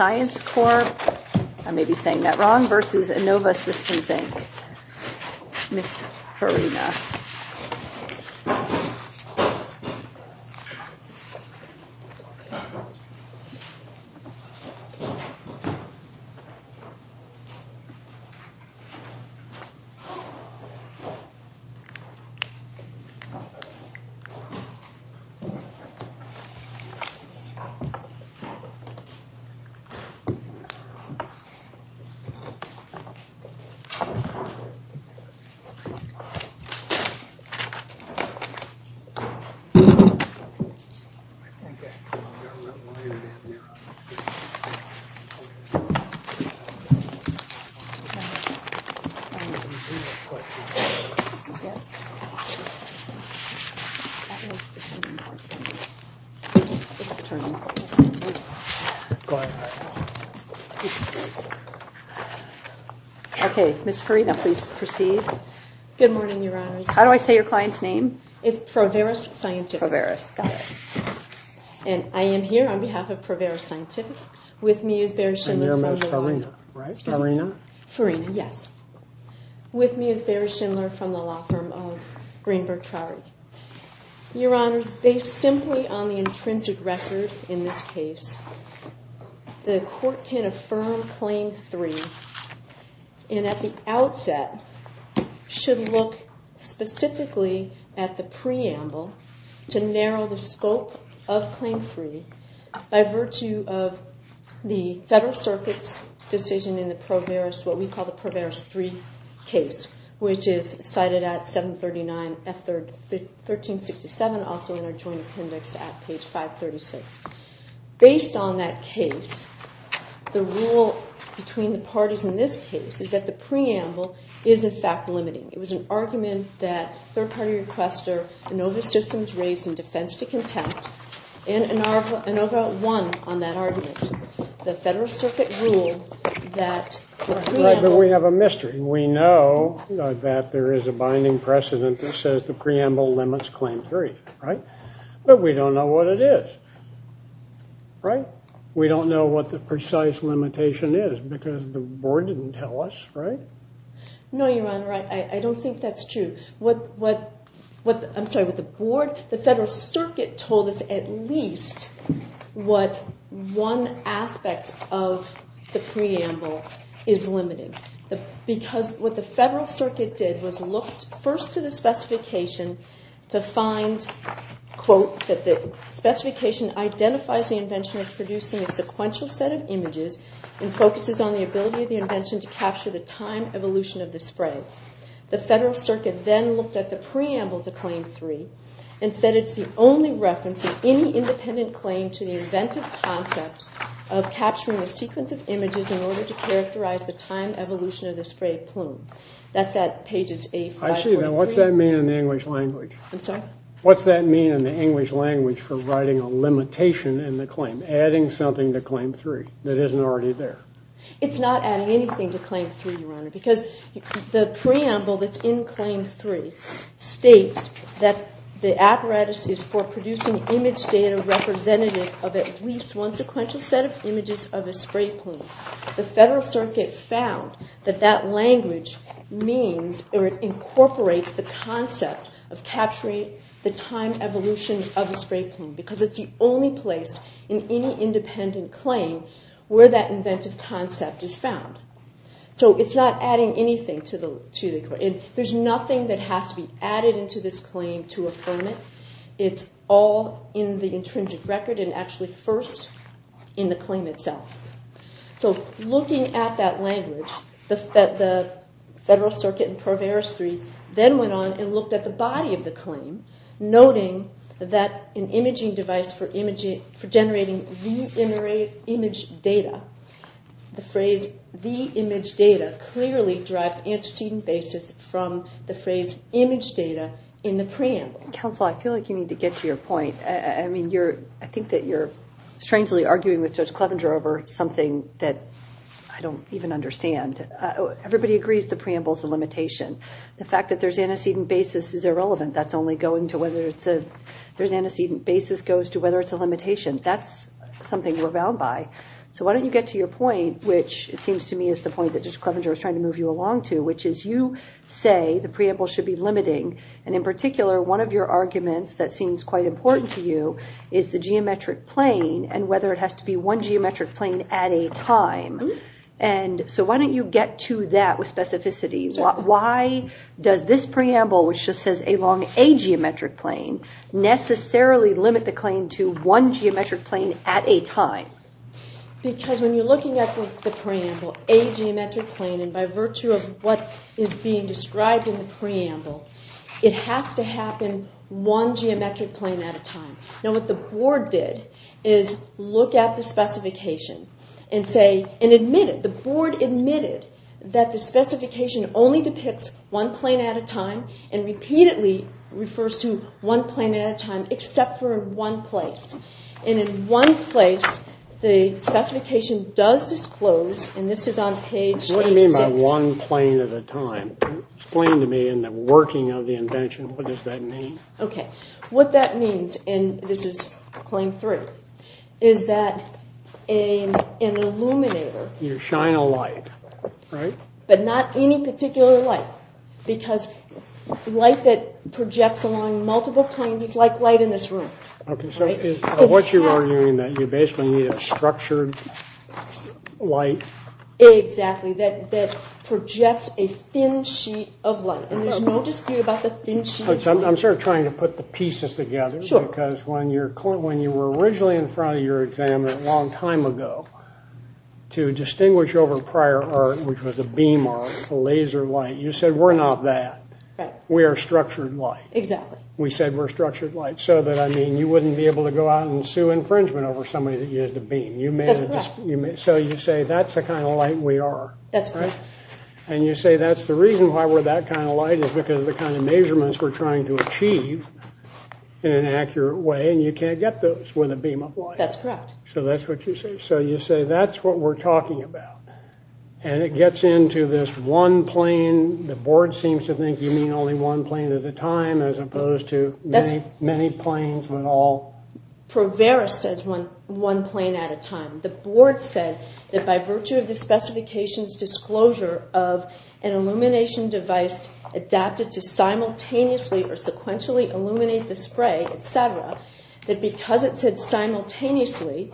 I may be saying that wrong, versus Innovasystems, Inc. I may be saying that wrong, versus Innovasystems, Inc. I may be saying that wrong, versus Innovasystems, Inc. The Court can affirm Claim 3 and at the outset should look specifically at the preamble to narrow the scope of Claim 3 by virtue of the Federal Circuit's decision in the Proveris, what we call the Proveris 3 case, which is cited at 739 F 1367, also in our Joint Appendix at page 536. Based on that case, the rule between the parties in this case is that the preamble is, in fact, limiting. It was an argument that third-party requester Innovasystems raised in defense to contempt, and Innova won on that argument. The Federal Circuit ruled that the preamble... Right, but we have a mystery. We know that there is a binding precedent that says the preamble limits Claim 3, right? But we don't know what it is, right? We don't know what the precise limitation is because the board didn't tell us, right? No, Your Honor, I don't think that's true. I'm sorry, with the board? The Federal Circuit told us at least what one aspect of the preamble is limited. Because what the Federal Circuit did was look first to the specification to find, quote, that the specification identifies the invention as producing a sequential set of images and focuses on the ability of the invention to capture the time evolution of the spray. The Federal Circuit then looked at the preamble to Claim 3 and said it's the only reference of any independent claim to the inventive concept of capturing a sequence of images in order to characterize the time evolution of the spray plume. I see, now what's that mean in the English language? I'm sorry? What's that mean in the English language for writing a limitation in the claim, adding something to Claim 3 that isn't already there? It's not adding anything to Claim 3, Your Honor, because the preamble that's in Claim 3 states that the apparatus is for producing image data representative of at least one sequential set of images of a spray plume. The Federal Circuit found that that language means or incorporates the concept of capturing the time evolution of a spray plume because it's the only place in any independent claim where that inventive concept is found. So it's not adding anything to the claim. There's nothing that has to be added into this claim to affirm it. It's all in the intrinsic record and actually first in the claim itself. So looking at that language, the Federal Circuit in Pro Veris 3 then went on and looked at the body of the claim, noting that an imaging device for generating the image data, the phrase the image data, clearly derives antecedent basis from the phrase image data in the preamble. Counsel, I feel like you need to get to your point. I mean, I think that you're strangely arguing with Judge Clevenger over something that I don't even understand. Everybody agrees the preamble is a limitation. The fact that there's antecedent basis is irrelevant. There's antecedent basis goes to whether it's a limitation. That's something we're bound by. So why don't you get to your point, which it seems to me is the point that Judge Clevenger was trying to move you along to, which is you say the preamble should be limiting. And in particular, one of your arguments that seems quite important to you is the geometric plane and whether it has to be one geometric plane at a time. And so why don't you get to that with specificity? Why does this preamble, which just says along a geometric plane, necessarily limit the claim to one geometric plane at a time? Because when you're looking at the preamble, a geometric plane, and by virtue of what is being described in the preamble, it has to happen one geometric plane at a time. Now what the Board did is look at the specification and say, and admit it. The Board admitted that the specification only depicts one plane at a time and repeatedly refers to one plane at a time, except for one place. And in one place, the specification does disclose, and this is on page 6... What do you mean by one plane at a time? Explain to me in the working of the invention, what does that mean? Okay. What that means, and this is claim 3, is that an illuminator... Light that projects along multiple planes is like light in this room. So what you're arguing is that you basically need a structured light... Exactly, that projects a thin sheet of light, and there's no dispute about the thin sheet of light. I'm sort of trying to put the pieces together, because when you were originally in front of your exam a long time ago, to distinguish over prior art, which was a beam art, a laser light, you said, we're not that. We are structured light. We said we're structured light. So that, I mean, you wouldn't be able to go out and sue infringement over somebody that you had to beam. So you say, that's the kind of light we are. And you say, that's the reason why we're that kind of light, is because of the kind of measurements we're trying to achieve in an accurate way, and you can't get those with a beam of light. So that's what you say. So you say, that's what we're talking about, and it gets into this one plane. The board seems to think you mean only one plane at a time, as opposed to many planes, but all... Provera says one plane at a time. The board said that by virtue of the specifications disclosure of an illumination device adapted to simultaneously or sequentially illuminate the spray, etc., that because it said simultaneously,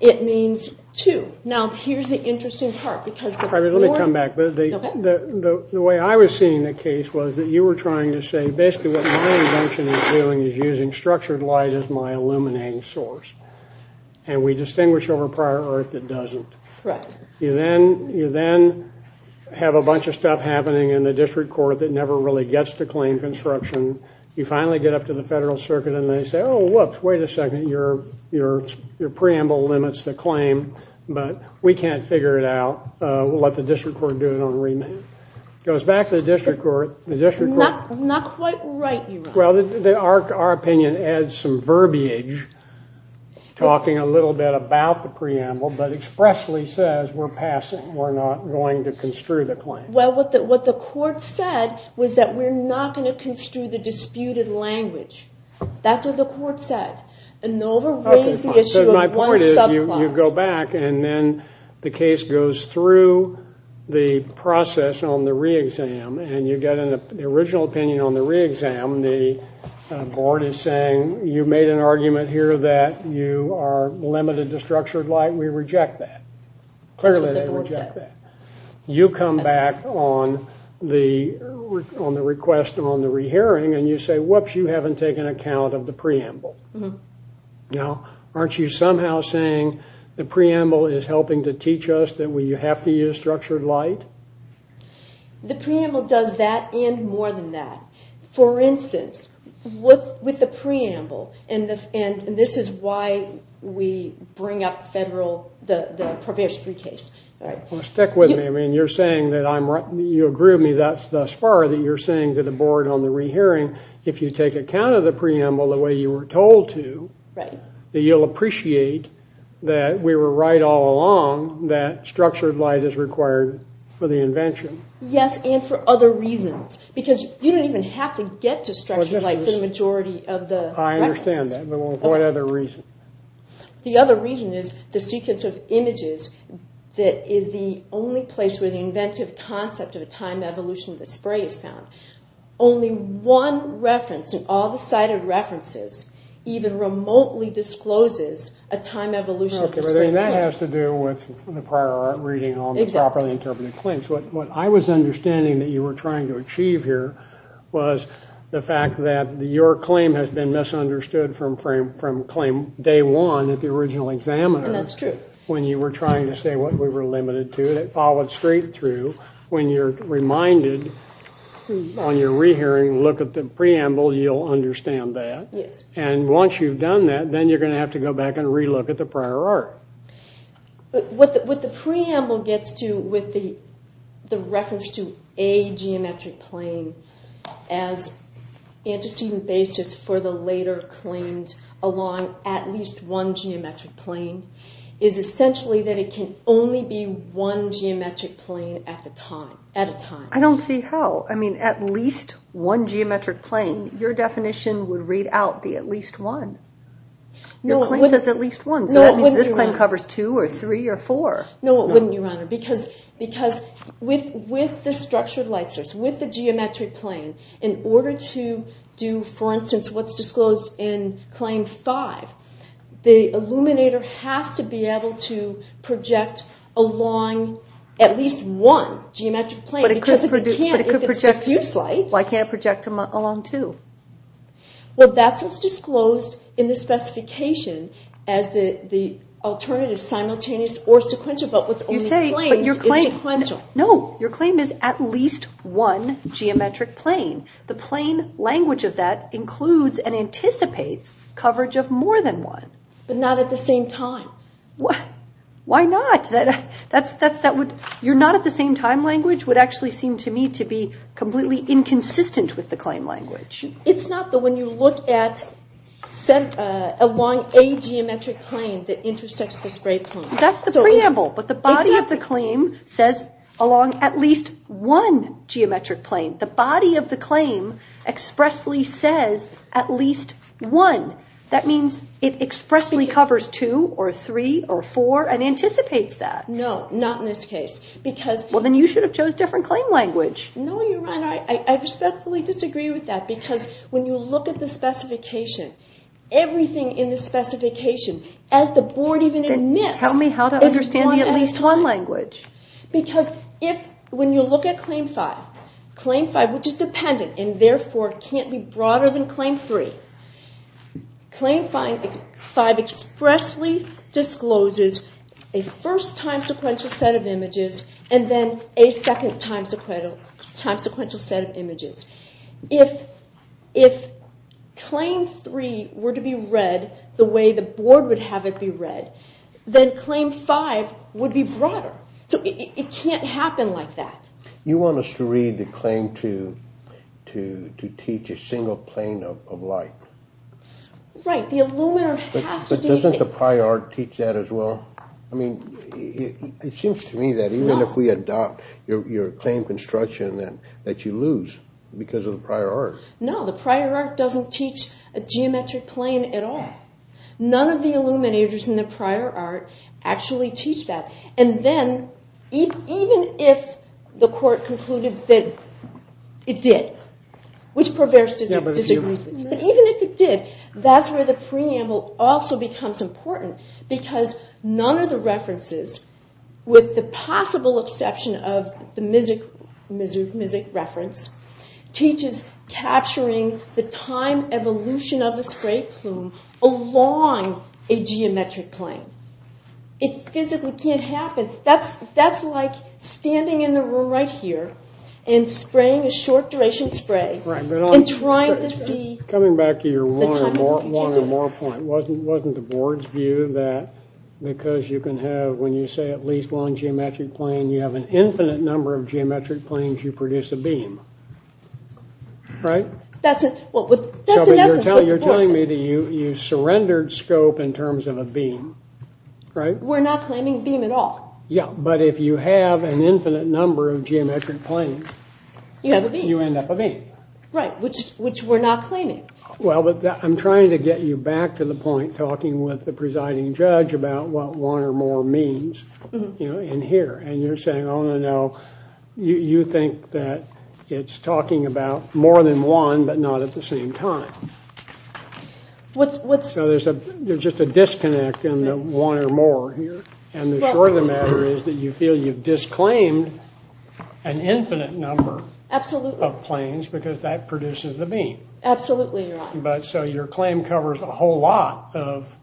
it means two. Now, here's the interesting part. The way I was seeing the case was that you were trying to say, basically what my invention is doing is using structured light as my illuminating source. And we distinguish over prior art that doesn't. You then have a bunch of stuff happening in the district court that never really gets to claim construction. You finally get up to the federal circuit and they say, oh, whoops, wait a second. Your preamble limits the claim, but we can't figure it out. We'll let the district court do it on remand. It goes back to the district court. Our opinion adds some verbiage, talking a little bit about the preamble, but expressly says we're passing. We're not going to construe the claim. Well, what the court said was that we're not going to construe the disputed language. That's what the court said. So my point is, you go back and then the case goes through the process on the re-exam, and you get an original opinion on the re-exam. The board is saying you made an argument here that you are limited to structured light. We reject that. You come back on the request on the re-hearing and you say, whoops, you haven't taken account of the preamble. Now, aren't you somehow saying the preamble is helping to teach us that we have to use structured light? The preamble does that and more than that. For instance, with the preamble, and this is why we bring up the federal case. Stick with me. You're saying that you agree with me thus far that you're saying to the board on the re-hearing, if you take account of the preamble the way you were told to, you'll appreciate that we were right all along that structured light is required for the invention. Yes, and for other reasons, because you don't even have to get to structured light for the majority of the references. The other reason is the sequence of images that is the only place where the inventive concept of a time evolution of the spray is found. Only one reference in all the cited references even remotely discloses a time evolution of the spray. That has to do with the prior reading on the properly interpreted claims. What I was understanding that you were trying to achieve here was the fact that your claim has been misunderstood from claim day one at the original examiner when you were trying to say what we were limited to. It followed straight through when you're reminded on your re-hearing, look at the preamble, you'll understand that. Once you've done that, then you're going to have to go back and re-look at the prior art. What the preamble gets to with the reference to a geometric plane as antecedent basis for the later claims along at least one geometric plane is essentially that it can only be one geometric plane at a time. I don't see how. I mean, at least one geometric plane. Your definition would read out the at least one. Your claim says at least one, so that means this claim covers two or three or four. No, it wouldn't, Your Honor, because with the structured light source, with the geometric plane, in order to do, for instance, what's disclosed in claim five, the illuminator has to be able to project along at least one geometric plane. Why can't it project along two? That's what's disclosed in the specification as the alternative simultaneous or sequential, but what's only claimed is sequential. No, your claim is at least one geometric plane. The plane language of that includes and anticipates coverage of more than one. But not at the same time. Your not-at-the-same-time language would actually seem to me to be completely inconsistent with the claim language. It's not the one you look at along a geometric plane that intersects the spray plane. That's the preamble, but the body of the claim says along at least one geometric plane. The body of the claim expressly says at least one. That means it expressly covers two or three or four and anticipates that. No, not in this case. Then you should have chosen a different claim language. I respectfully disagree with that because when you look at the specification, everything in the specification, as the board even admits, is one at a time. Because when you look at claim five, which is dependent and therefore can't be broader than claim three, claim five expressly discloses a first time sequential set of images and then a second time sequential set of images. If claim three were to be read the way the board would have it be read, then claim five would be broader. It can't happen like that. You want us to read the claim to teach a single plane of light. Right, the illuminator has to teach it. But doesn't the prior art teach that as well? It seems to me that even if we adopt your claim construction that you lose because of the prior art. No, the prior art doesn't teach a geometric plane at all. None of the illuminators in the prior art actually teach that. Even if the court concluded that it did, which Proversch disagrees with, that's where the preamble also becomes important because none of the references, with the possible exception of the Mizuch reference, teaches capturing the time evolution of a spray plume along a geometric plane. It physically can't happen. That's like standing in the room right here and spraying a short duration spray and trying to see the time evolution. Coming back to your one or more point, wasn't the board's view that because you can have, when you say at least one geometric plane, you have an infinite number of geometric planes, you produce a beam? You're telling me that you surrendered scope in terms of a beam. We're not claiming beam at all. But if you have an infinite number of geometric planes, you end up a beam. Which we're not claiming. I'm trying to get you back to the point talking with the presiding judge about what one or more means. You're saying you think that it's talking about more than one, but not at the same time. There's just a disconnect in the one or more here. The short of the matter is that you feel you've disclaimed an infinite number of planes because that produces the beam. Your claim covers a whole lot of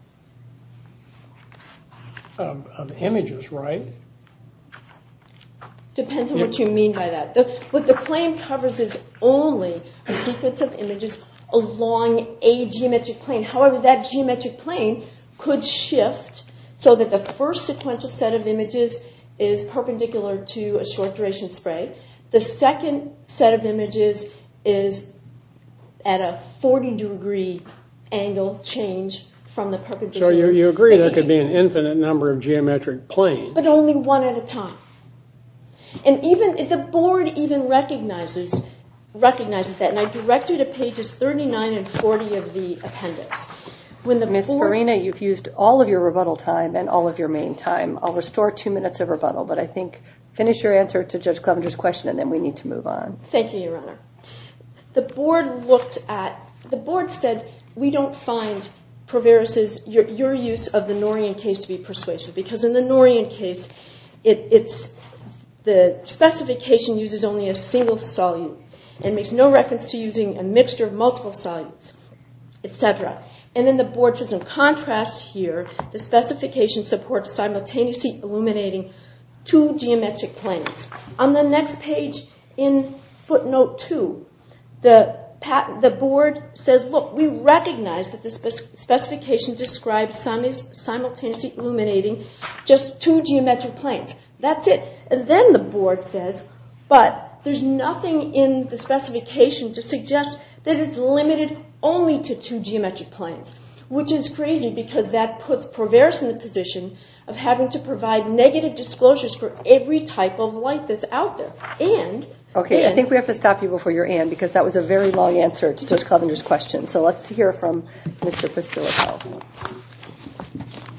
images, right? Depends on what you mean by that. What the claim covers is only a sequence of images along a geometric plane. However, that geometric plane could shift so that the first sequential set of images is perpendicular to a short duration spray. The second set of images is at a 40 degree angle change from the perpendicular. So you agree there could be an infinite number of geometric planes. But only one at a time. And the board even recognizes that. And I direct you to pages 39 and 40 of the appendix. Ms. Farina, you've used all of your rebuttal time and all of your main time. I'll restore two minutes of rebuttal, but I think finish your answer to Judge Clevenger's question and then we need to move on. Thank you, Your Honor. The board said, we don't find your use of the Norian case to be persuasive. Because in the Norian case, the specification uses only a single solute and makes no reference to using a mixture of multiple solutes, etc. And then the board says, in contrast here, the specification supports simultaneously illuminating two geometric planes. On the next page in footnote 2, the board says, look, we recognize that the specification describes simultaneously illuminating just two geometric planes. That's it. And then the board says, but there's nothing in the specification to suggest that it's limited only to two geometric planes. Which is crazy, because that puts Porveris in the position of having to provide negative disclosures for every type of light that's out there. Okay, I think we have to stop you before your end, because that was a very long answer to Judge Clevenger's question. So let's hear from Mr. Pasilico.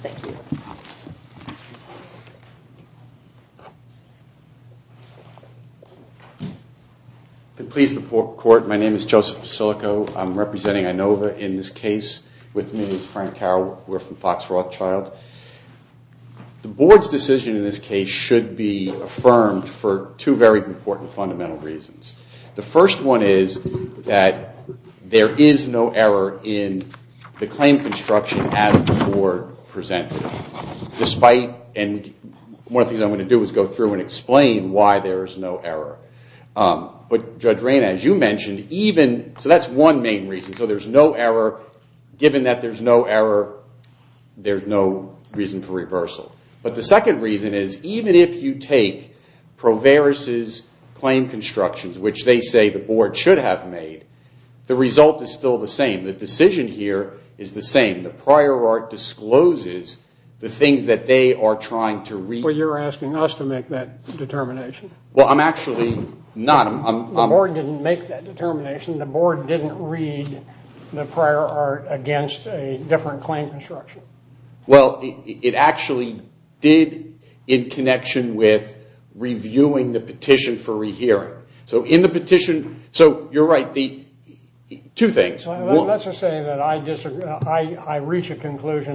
Thank you. My name is Joseph Pasilico. I'm representing Inova in this case. With me is Frank Carroll. We're from Fox Rothschild. The board's decision in this case should be affirmed for two very important fundamental reasons. The first one is that there is no error in the claim construction as the board presented it. One of the things I'm going to do is go through and explain why there is no error. So that's one main reason. Given that there's no error, there's no reason for reversal. But the second reason is, even if you take Porveris' claim constructions, which they say the board should have made, the result is still the same. The decision here is the same. The prior art discloses the things that they are trying to read. Well, you're asking us to make that determination. The board didn't make that determination. The board didn't read the prior art against a different claim construction. Well, it actually did in connection with reviewing the petition for re-hearing. I reach a conclusion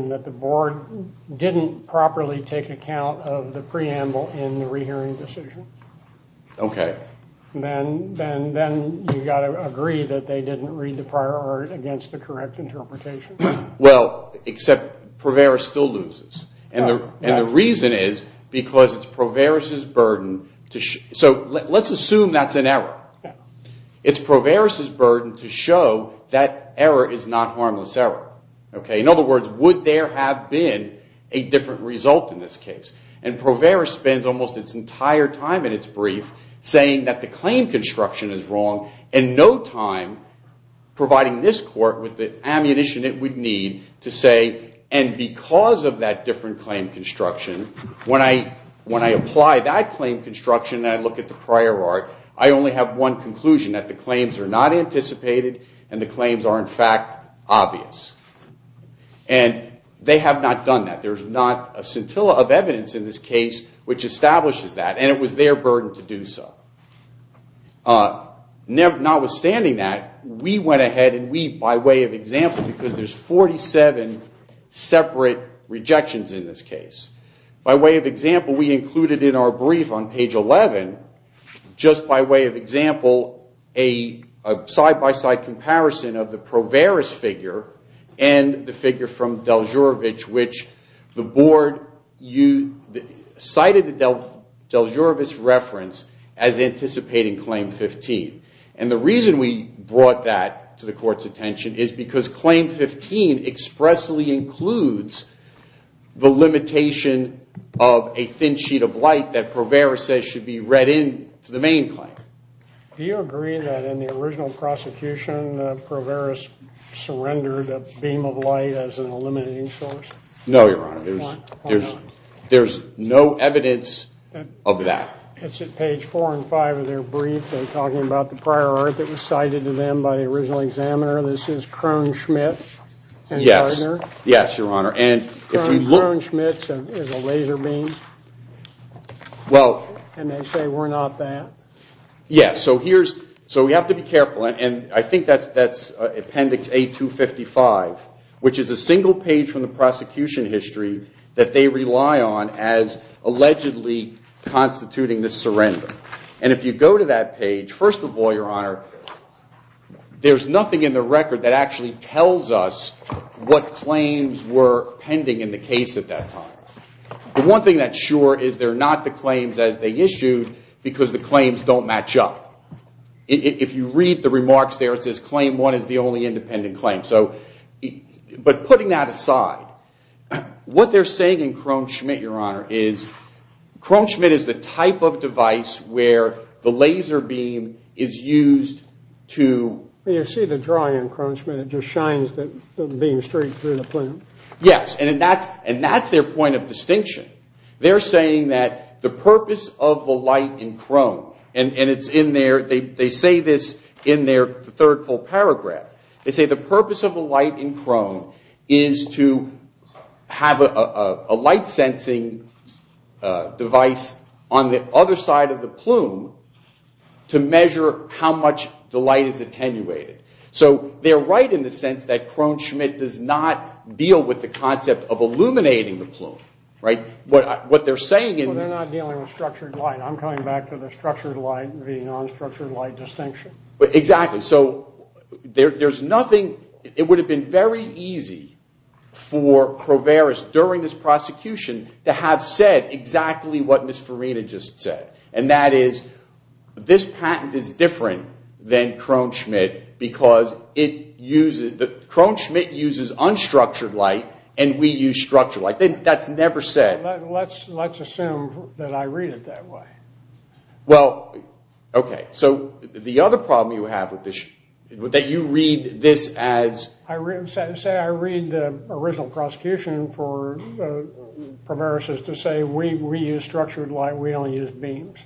that the board didn't properly take account of the preamble in the re-hearing decision. Then you've got to agree that they didn't read the prior art against the correct interpretation. Porveris still loses. Let's assume that's an error. It's Porveris' burden to show that error is not harmless error. In other words, would there have been a different result in this case? Porveris spends almost its entire time in its brief saying that the claim construction is wrong, and no time providing this court with the ammunition it would need to say, and because of that different claim construction, when I apply that claim construction and I look at the prior art, I only have one conclusion, that the claims are not anticipated and the claims are in fact obvious. They have not done that. There's not a scintilla of evidence in this case which establishes that, and it was their burden to do so. Notwithstanding that, we went ahead and we, by way of example, because there's 47 separate rejections in this case, we included in our brief on page 11, just by way of example, a side-by-side comparison of the Porveris figure and the figure from Deljurevic, which the board cited Deljurevic's reference as anticipating claim 15. And the reason we brought that to the court's attention is because claim 15 expressly includes the limitation of a thin sheet of light that Porveris says should be read in to the main claim. Do you agree that in the original prosecution Porveris surrendered a beam of light as an eliminating source? No, Your Honor. There's no evidence of that. It's at page 4 and 5 of their brief, they're talking about the prior art that was cited to them by the original examiner. This is Krohn-Schmidt and Gardner. Krohn-Schmidt is a laser beam, and they say we're not that. Yes, so we have to be careful, and I think that's appendix A255, which is a single page from the prosecution history that they rely on as allegedly constituting the surrender. And if you go to that page, first of all, Your Honor, there's nothing in the record that actually tells us what claims were pending in the case at that time. The one thing that's sure is they're not the claims as they issued because the claims don't match up. If you read the remarks there, it says claim one is the only independent claim. But putting that aside, what they're saying in Krohn-Schmidt, Your Honor, is Krohn-Schmidt is the type of device where the laser beam is used to... You see the drawing in Krohn-Schmidt, it just shines the beam straight through the plant. Yes, and that's their point of distinction. They're saying that the purpose of the light in Krohn, and they say this in their third full paragraph, they say the purpose of the light in Krohn is to have a light sensing device on the other side of the plume to measure how much the light is attenuated. So they're right in the sense that Krohn-Schmidt does not deal with the concept of illuminating the plume. Well, they're not dealing with structured light. I'm coming back to the structured light and the non-structured light distinction. It would have been very easy for Kroveris during this prosecution to have said exactly what Ms. Farina just said, and that is this patent is different than Krohn-Schmidt because Krohn-Schmidt uses unstructured light and we use structured light. Let's assume that I read it that way. Say I read the original prosecution for Kroveris to say we use structured light, we only use beams.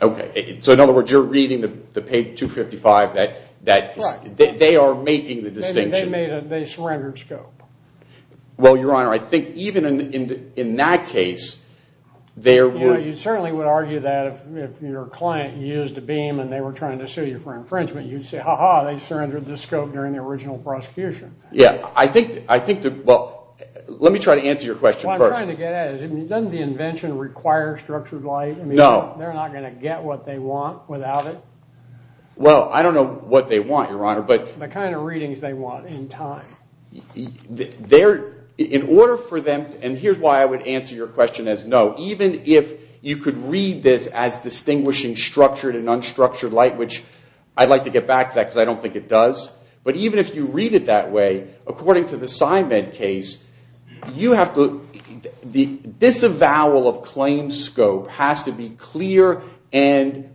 So in other words, you're reading the page 255 that they are making the distinction. They surrendered scope. You certainly would argue that if your client used a beam and they were trying to sue you for infringement, you'd say, ha ha, they surrendered the scope during the original prosecution. Doesn't the invention require structured light? They're not going to get what they want without it. The kind of readings they want in time. Here's why I would answer your question as no. Even if you could read this as distinguishing structured and unstructured light, which I'd like to get back to that because I don't think it does, but even if you read it that way, according to the Symed case, the disavowal of claims scope has to be clear and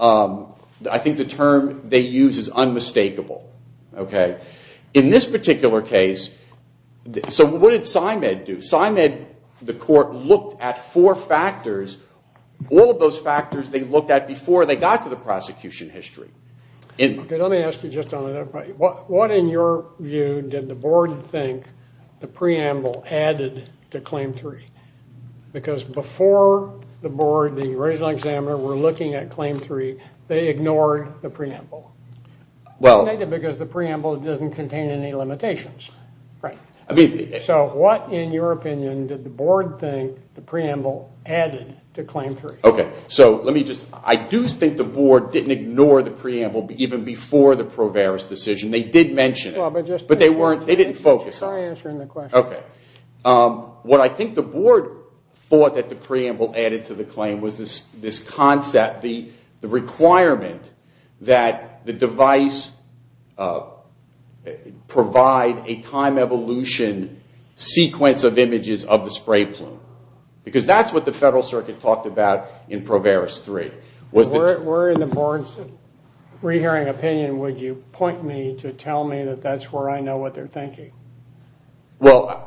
I think the term they use is unmistakable. In this particular case, so what did Symed do? Symed, the court, looked at four factors. All of those factors they looked at before they got to the prosecution history. What did the board think the preamble added to Claim 3? Because before the board, the original examiner, were looking at Claim 3, they ignored the preamble. What, in your opinion, did the board think the preamble added to Claim 3? I do think the board didn't ignore the preamble even before the Proveris decision. They did mention it, but they didn't focus on it. What I think the board thought that the preamble added to the claim was this concept, the requirement that the device provide a time evolution sequence of images of the spray plume. Because that's what the Federal Circuit talked about in Proveris 3. Where in the board's re-hearing opinion would you point me to tell me that that's where I know what they're thinking? To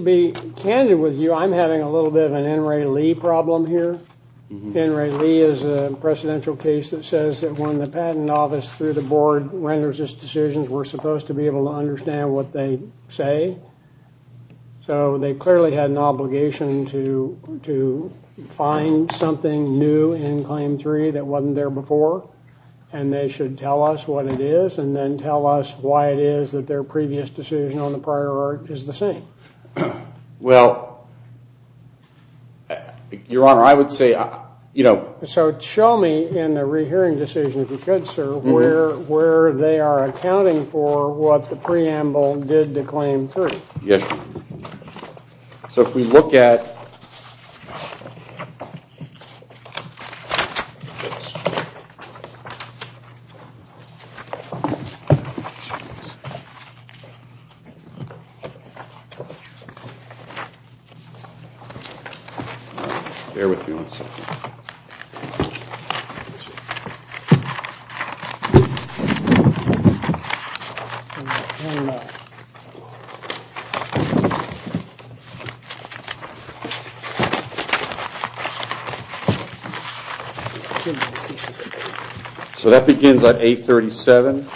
be candid with you, I'm having a little bit of an N. Ray Lee problem here. N. Ray Lee is a presidential case that says that when the patent office through the board renders its decisions, we're supposed to be able to understand what they say. So they clearly had an obligation to find something new in Claim 3 that wasn't there before, and they should tell us what it is and then tell us why it is that their previous decision on the prior art is the same. Well, Your Honor, I would say... So show me in the re-hearing decision, if you could, sir, where they are accounting for what the preamble did to Claim 3. Bear with me one second. So that begins at 837.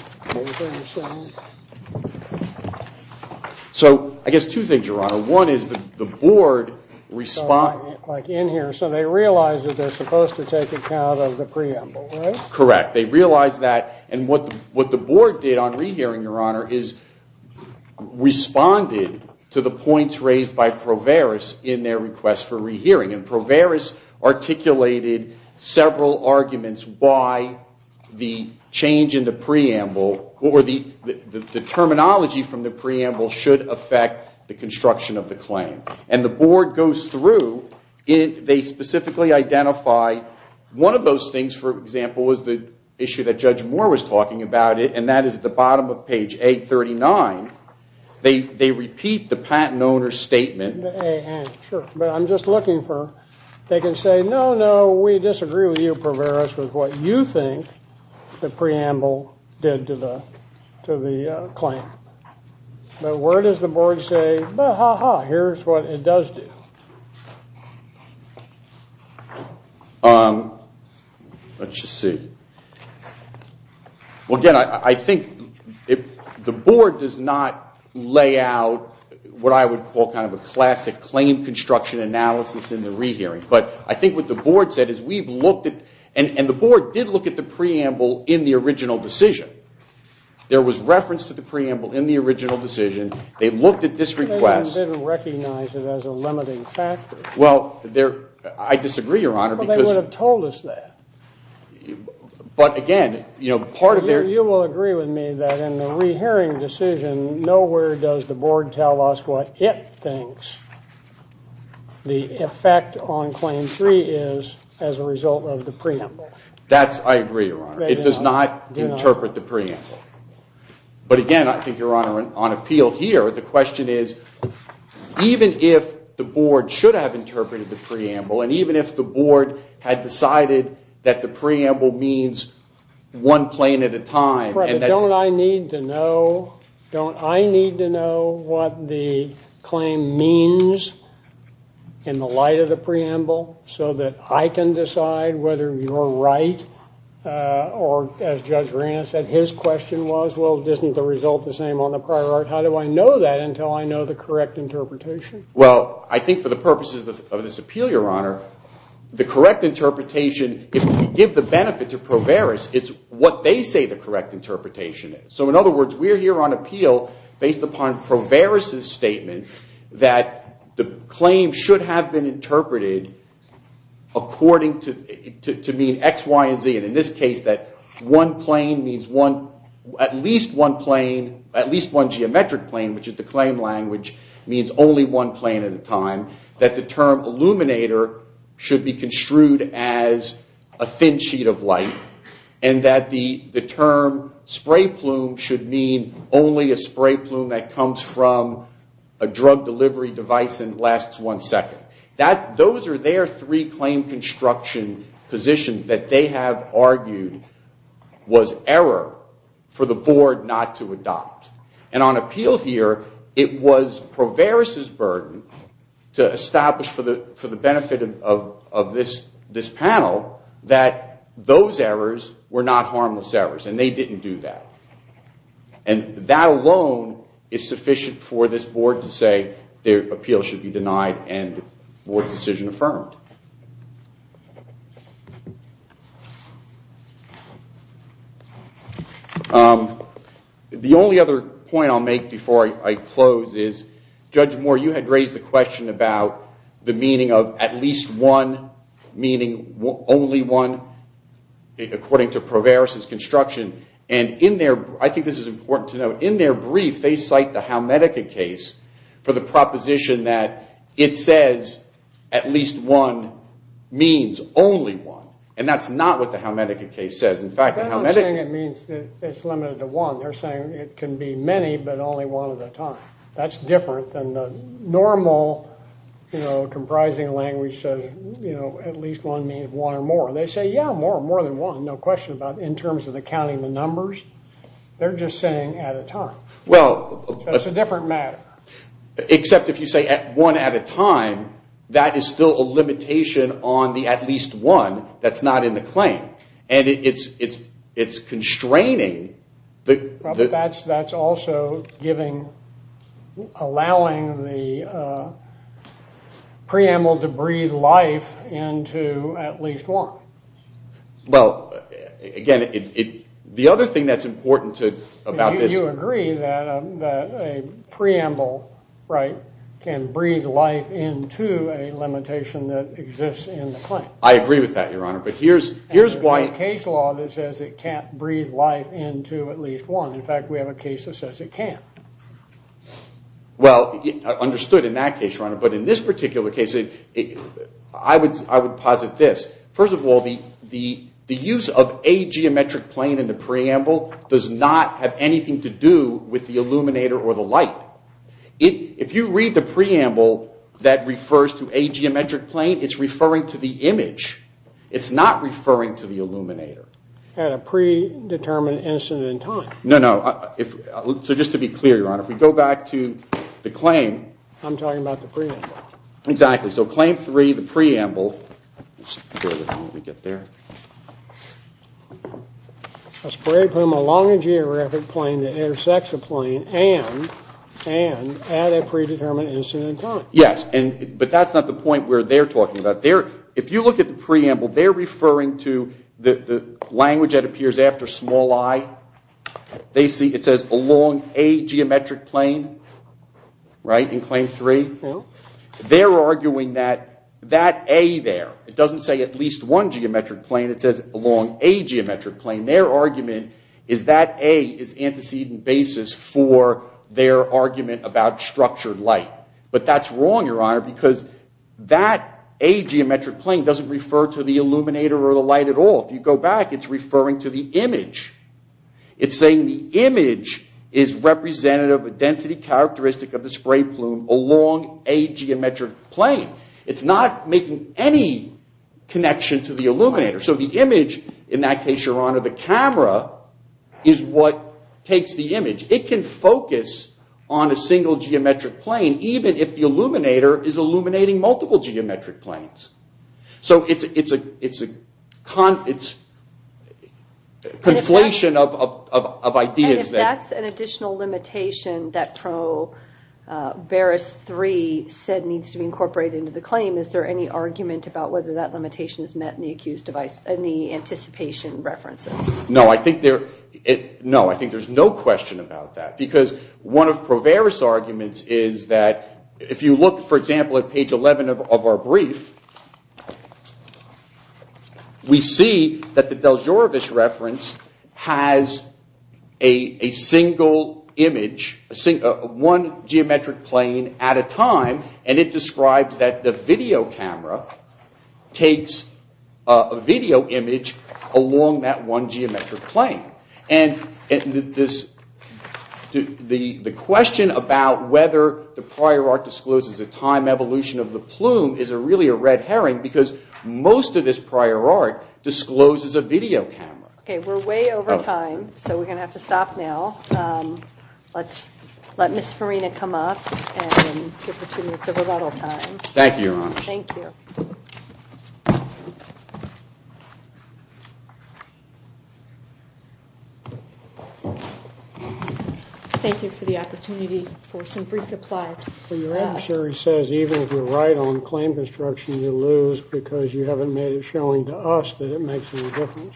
So I guess two things, Your Honor. One is the board... Like in here. So they realize that they're supposed to take account of the preamble, right? Correct. They realize that. And what the board did on re-hearing, Your Honor, is responded to the points raised by Proveris in their request for re-hearing. And Proveris articulated several arguments why the change in the preamble or the terminology from the preamble should affect the construction of the claim. And the board goes through. They specifically identify... One of those things, for example, was the issue that Judge Moore was talking about, and that is at the bottom of page 839. They repeat the patent owner's statement. But I'm just looking for... They can say, no, no, we disagree with you, Proveris, with what you think the preamble did. But where does the board say, well, ha, ha, here's what it does do? Let's just see. Well, again, I think the board does not lay out what I would call kind of a classic claim construction analysis in the re-hearing. But I think what the board said is we've looked at... And the board did look at the preamble in the original decision. There was reference to the preamble in the original decision. They looked at this request... Well, I disagree, Your Honor, because... Well, they would have told us that. But again, part of their... But again, I think, Your Honor, on appeal here, the question is, even if the board should have interpreted the preamble, and even if the board had decided that the preamble means one plane at a time... Don't I need to know what the claim means in the light of the preamble so that I can decide whether you're right? Or, as Judge Reina said, his question was, well, isn't the result the same on the prior art? How do I know that until I know the correct interpretation? Well, I think for the purposes of this appeal, Your Honor, the correct interpretation, if we give the benefit to Proveris, it's what they say the correct interpretation is. So, in other words, we're here on appeal based upon Proveris' statement that the claim should have been interpreted according to... And in this case, that one plane means one... At least one plane, at least one geometric plane, which is the claim language, means only one plane at a time. That the term illuminator should be construed as a thin sheet of light. And that the term spray plume should mean only a spray plume that comes from a drug delivery device and lasts one second. Those are their three claim construction positions that they have argued was error for the Board not to adopt. And on appeal here, it was Proveris' burden to establish for the benefit of this panel that those errors were not harmless errors. And they didn't do that. And that alone is sufficient for this Board to say their appeal should be denied and the Board's decision affirmed. The only other point I'll make before I close is, Judge Moore, you had raised the question about the meaning of at least one, meaning only one, according to Proveris' construction. And in their, I think this is important to note, in their brief, they cite the Halmedica case for the proposition that it says at least one means only one. And that's not what the Halmedica case says. They're not saying it means it's limited to one. They're saying it can be many, but only one at a time. That's different than the normal, you know, comprising language says, you know, at least one means one or more. They say, yeah, more than one, no question about it, in terms of the counting the numbers. They're just saying at a time. That's a different matter. Except if you say one at a time, that is still a limitation on the at least one that's not in the claim. And it's constraining. That's also giving, allowing the preamble to breathe life into at least one. Well, again, the other thing that's important about this. You agree that a preamble, right, can breathe life into a limitation that exists in the claim. I agree with that, Your Honor. There's a case law that says it can't breathe life into at least one. Well, understood in that case, Your Honor. But in this particular case, I would posit this. First of all, the use of a geometric plane in the preamble does not have anything to do with the illuminator or the light. If you read the preamble that refers to a geometric plane, it's referring to the image. It's not referring to the illuminator. At a predetermined instant in time. No, no. So just to be clear, Your Honor, if we go back to the claim. I'm talking about the preamble. Exactly. So claim three, the preamble. Yes, but that's not the point where they're talking about. If you look at the preamble, they're referring to the language that appears after small i. They see it says along a geometric plane. Right. In claim three, they're arguing that that a there. It doesn't say at least one geometric plane. It says along a geometric plane. Their argument is that a is antecedent basis for their argument about structured light. But that's wrong, Your Honor, because that a geometric plane doesn't refer to the illuminator or the light at all. If you go back, it's referring to the image. It's saying the image is representative of a density characteristic of the spray plume along a geometric plane. It's not making any connection to the illuminator. So the image, in that case, Your Honor, the camera, is what takes the image. It can focus on a single geometric plane even if the illuminator is illuminating multiple geometric planes. So it's a conflation of ideas there. And if that's an additional limitation that Pro Veris 3 said needs to be incorporated into the claim, is there any argument about whether that limitation is met in the anticipation references? No, I think there's no question about that. Because one of Pro Veris's arguments is that if you look, for example, at page 11 of our brief, we see that the Del Giorovis reference has a single image, one geometric plane at a time, and it describes that the video camera takes a video image along that one geometric plane. And the question about whether the prior art discloses a time evolution of the plume is really a red herring. Because most of this prior art discloses a video camera. Okay, we're way over time, so we're going to have to stop now. Let's let Ms. Farina come up and give her two minutes of rebuttal time. Thank you for the opportunity for some brief replies. Your adversary says even if you're right on claim construction, you lose because you haven't made it showing to us that it makes any difference.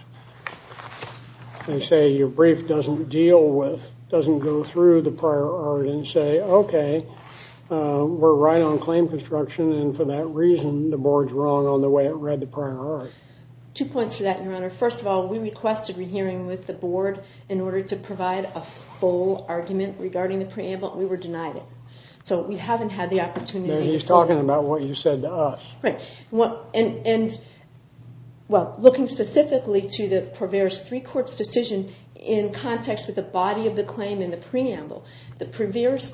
They say your brief doesn't deal with, doesn't go through the prior art and say, okay, we're right on claim construction, and for that reason, the board's wrong on the way it read the prior art. Two points to that, Your Honor. First of all, we requested a hearing with the board in order to provide a full argument regarding the preamble. We were denied it, so we haven't had the opportunity. He's talking about what you said to us. Looking specifically to the Proveris III court's decision in context with the body of the claim in the preamble, the Proveris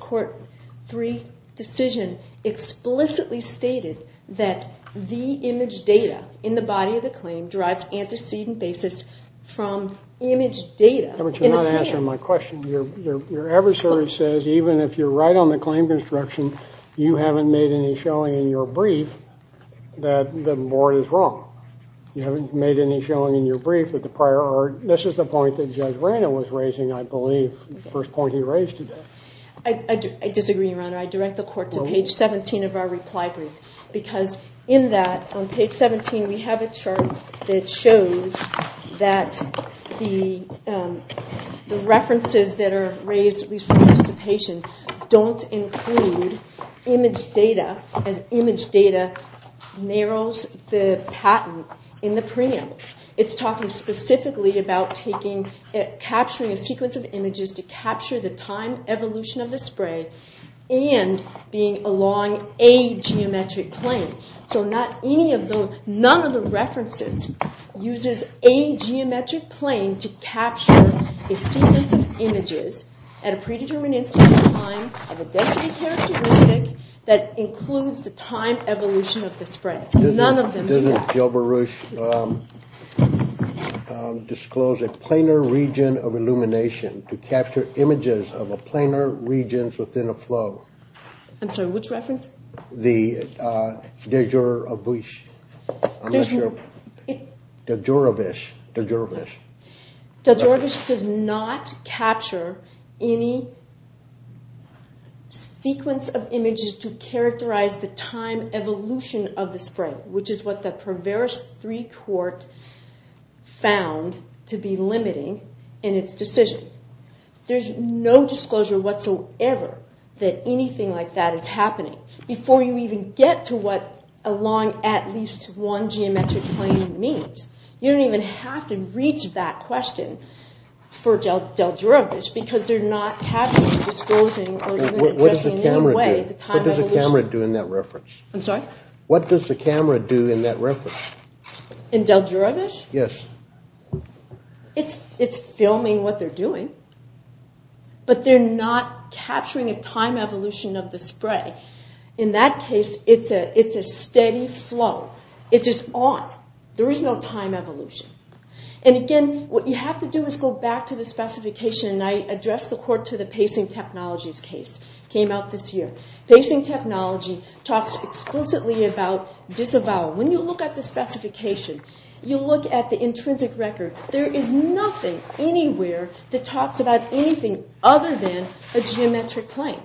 III decision explicitly stated that the image data in the body of the claim derives antecedent basis from image data in the preamble. But you're not answering my question. Your adversary says even if you're right on the claim construction, you haven't made any showing in your brief that the board is wrong. You haven't made any showing in your brief with the prior art. This is the point that Judge Rana was raising, I believe, the first point he raised today. I disagree, Your Honor. I direct the court to page 17 of our reply brief, because in that, on page 17, we have a chart that shows that the references that are raised, at least from participation, don't include image data, as image data narrows the patent in the preamble. It's talking specifically about capturing a sequence of images to capture the time evolution of the spray and being along a geometric plane. None of the references uses a geometric plane to capture a sequence of images at a predetermined instant in time of a density characteristic that includes the time evolution of the spray. None of them do that. Disclose a planar region of illumination to capture images of a planar region within a flow. I'm sorry, which reference? The Dejourovich. Dejourovich. Dejourovich does not capture any sequence of images to characterize the time evolution of the spray, which is what the Proveris III court found to be limiting in its decision. There's no disclosure whatsoever that anything like that is happening, before you even get to what along at least one geometric plane means. You don't even have to reach that question for Dejourovich, because they're not capturing the time evolution of the spray. What does the camera do in that reference? In Dejourovich? It's filming what they're doing, but they're not capturing a time evolution of the spray. In that case, it's a steady flow. It's just on. There is no time evolution. Again, what you have to do is go back to the specification, and I addressed the court to the pacing technologies case that came out this year. Pacing technology talks explicitly about disavowal. When you look at the specification, you look at the intrinsic record. There is nothing anywhere that talks about anything other than a geometric plane.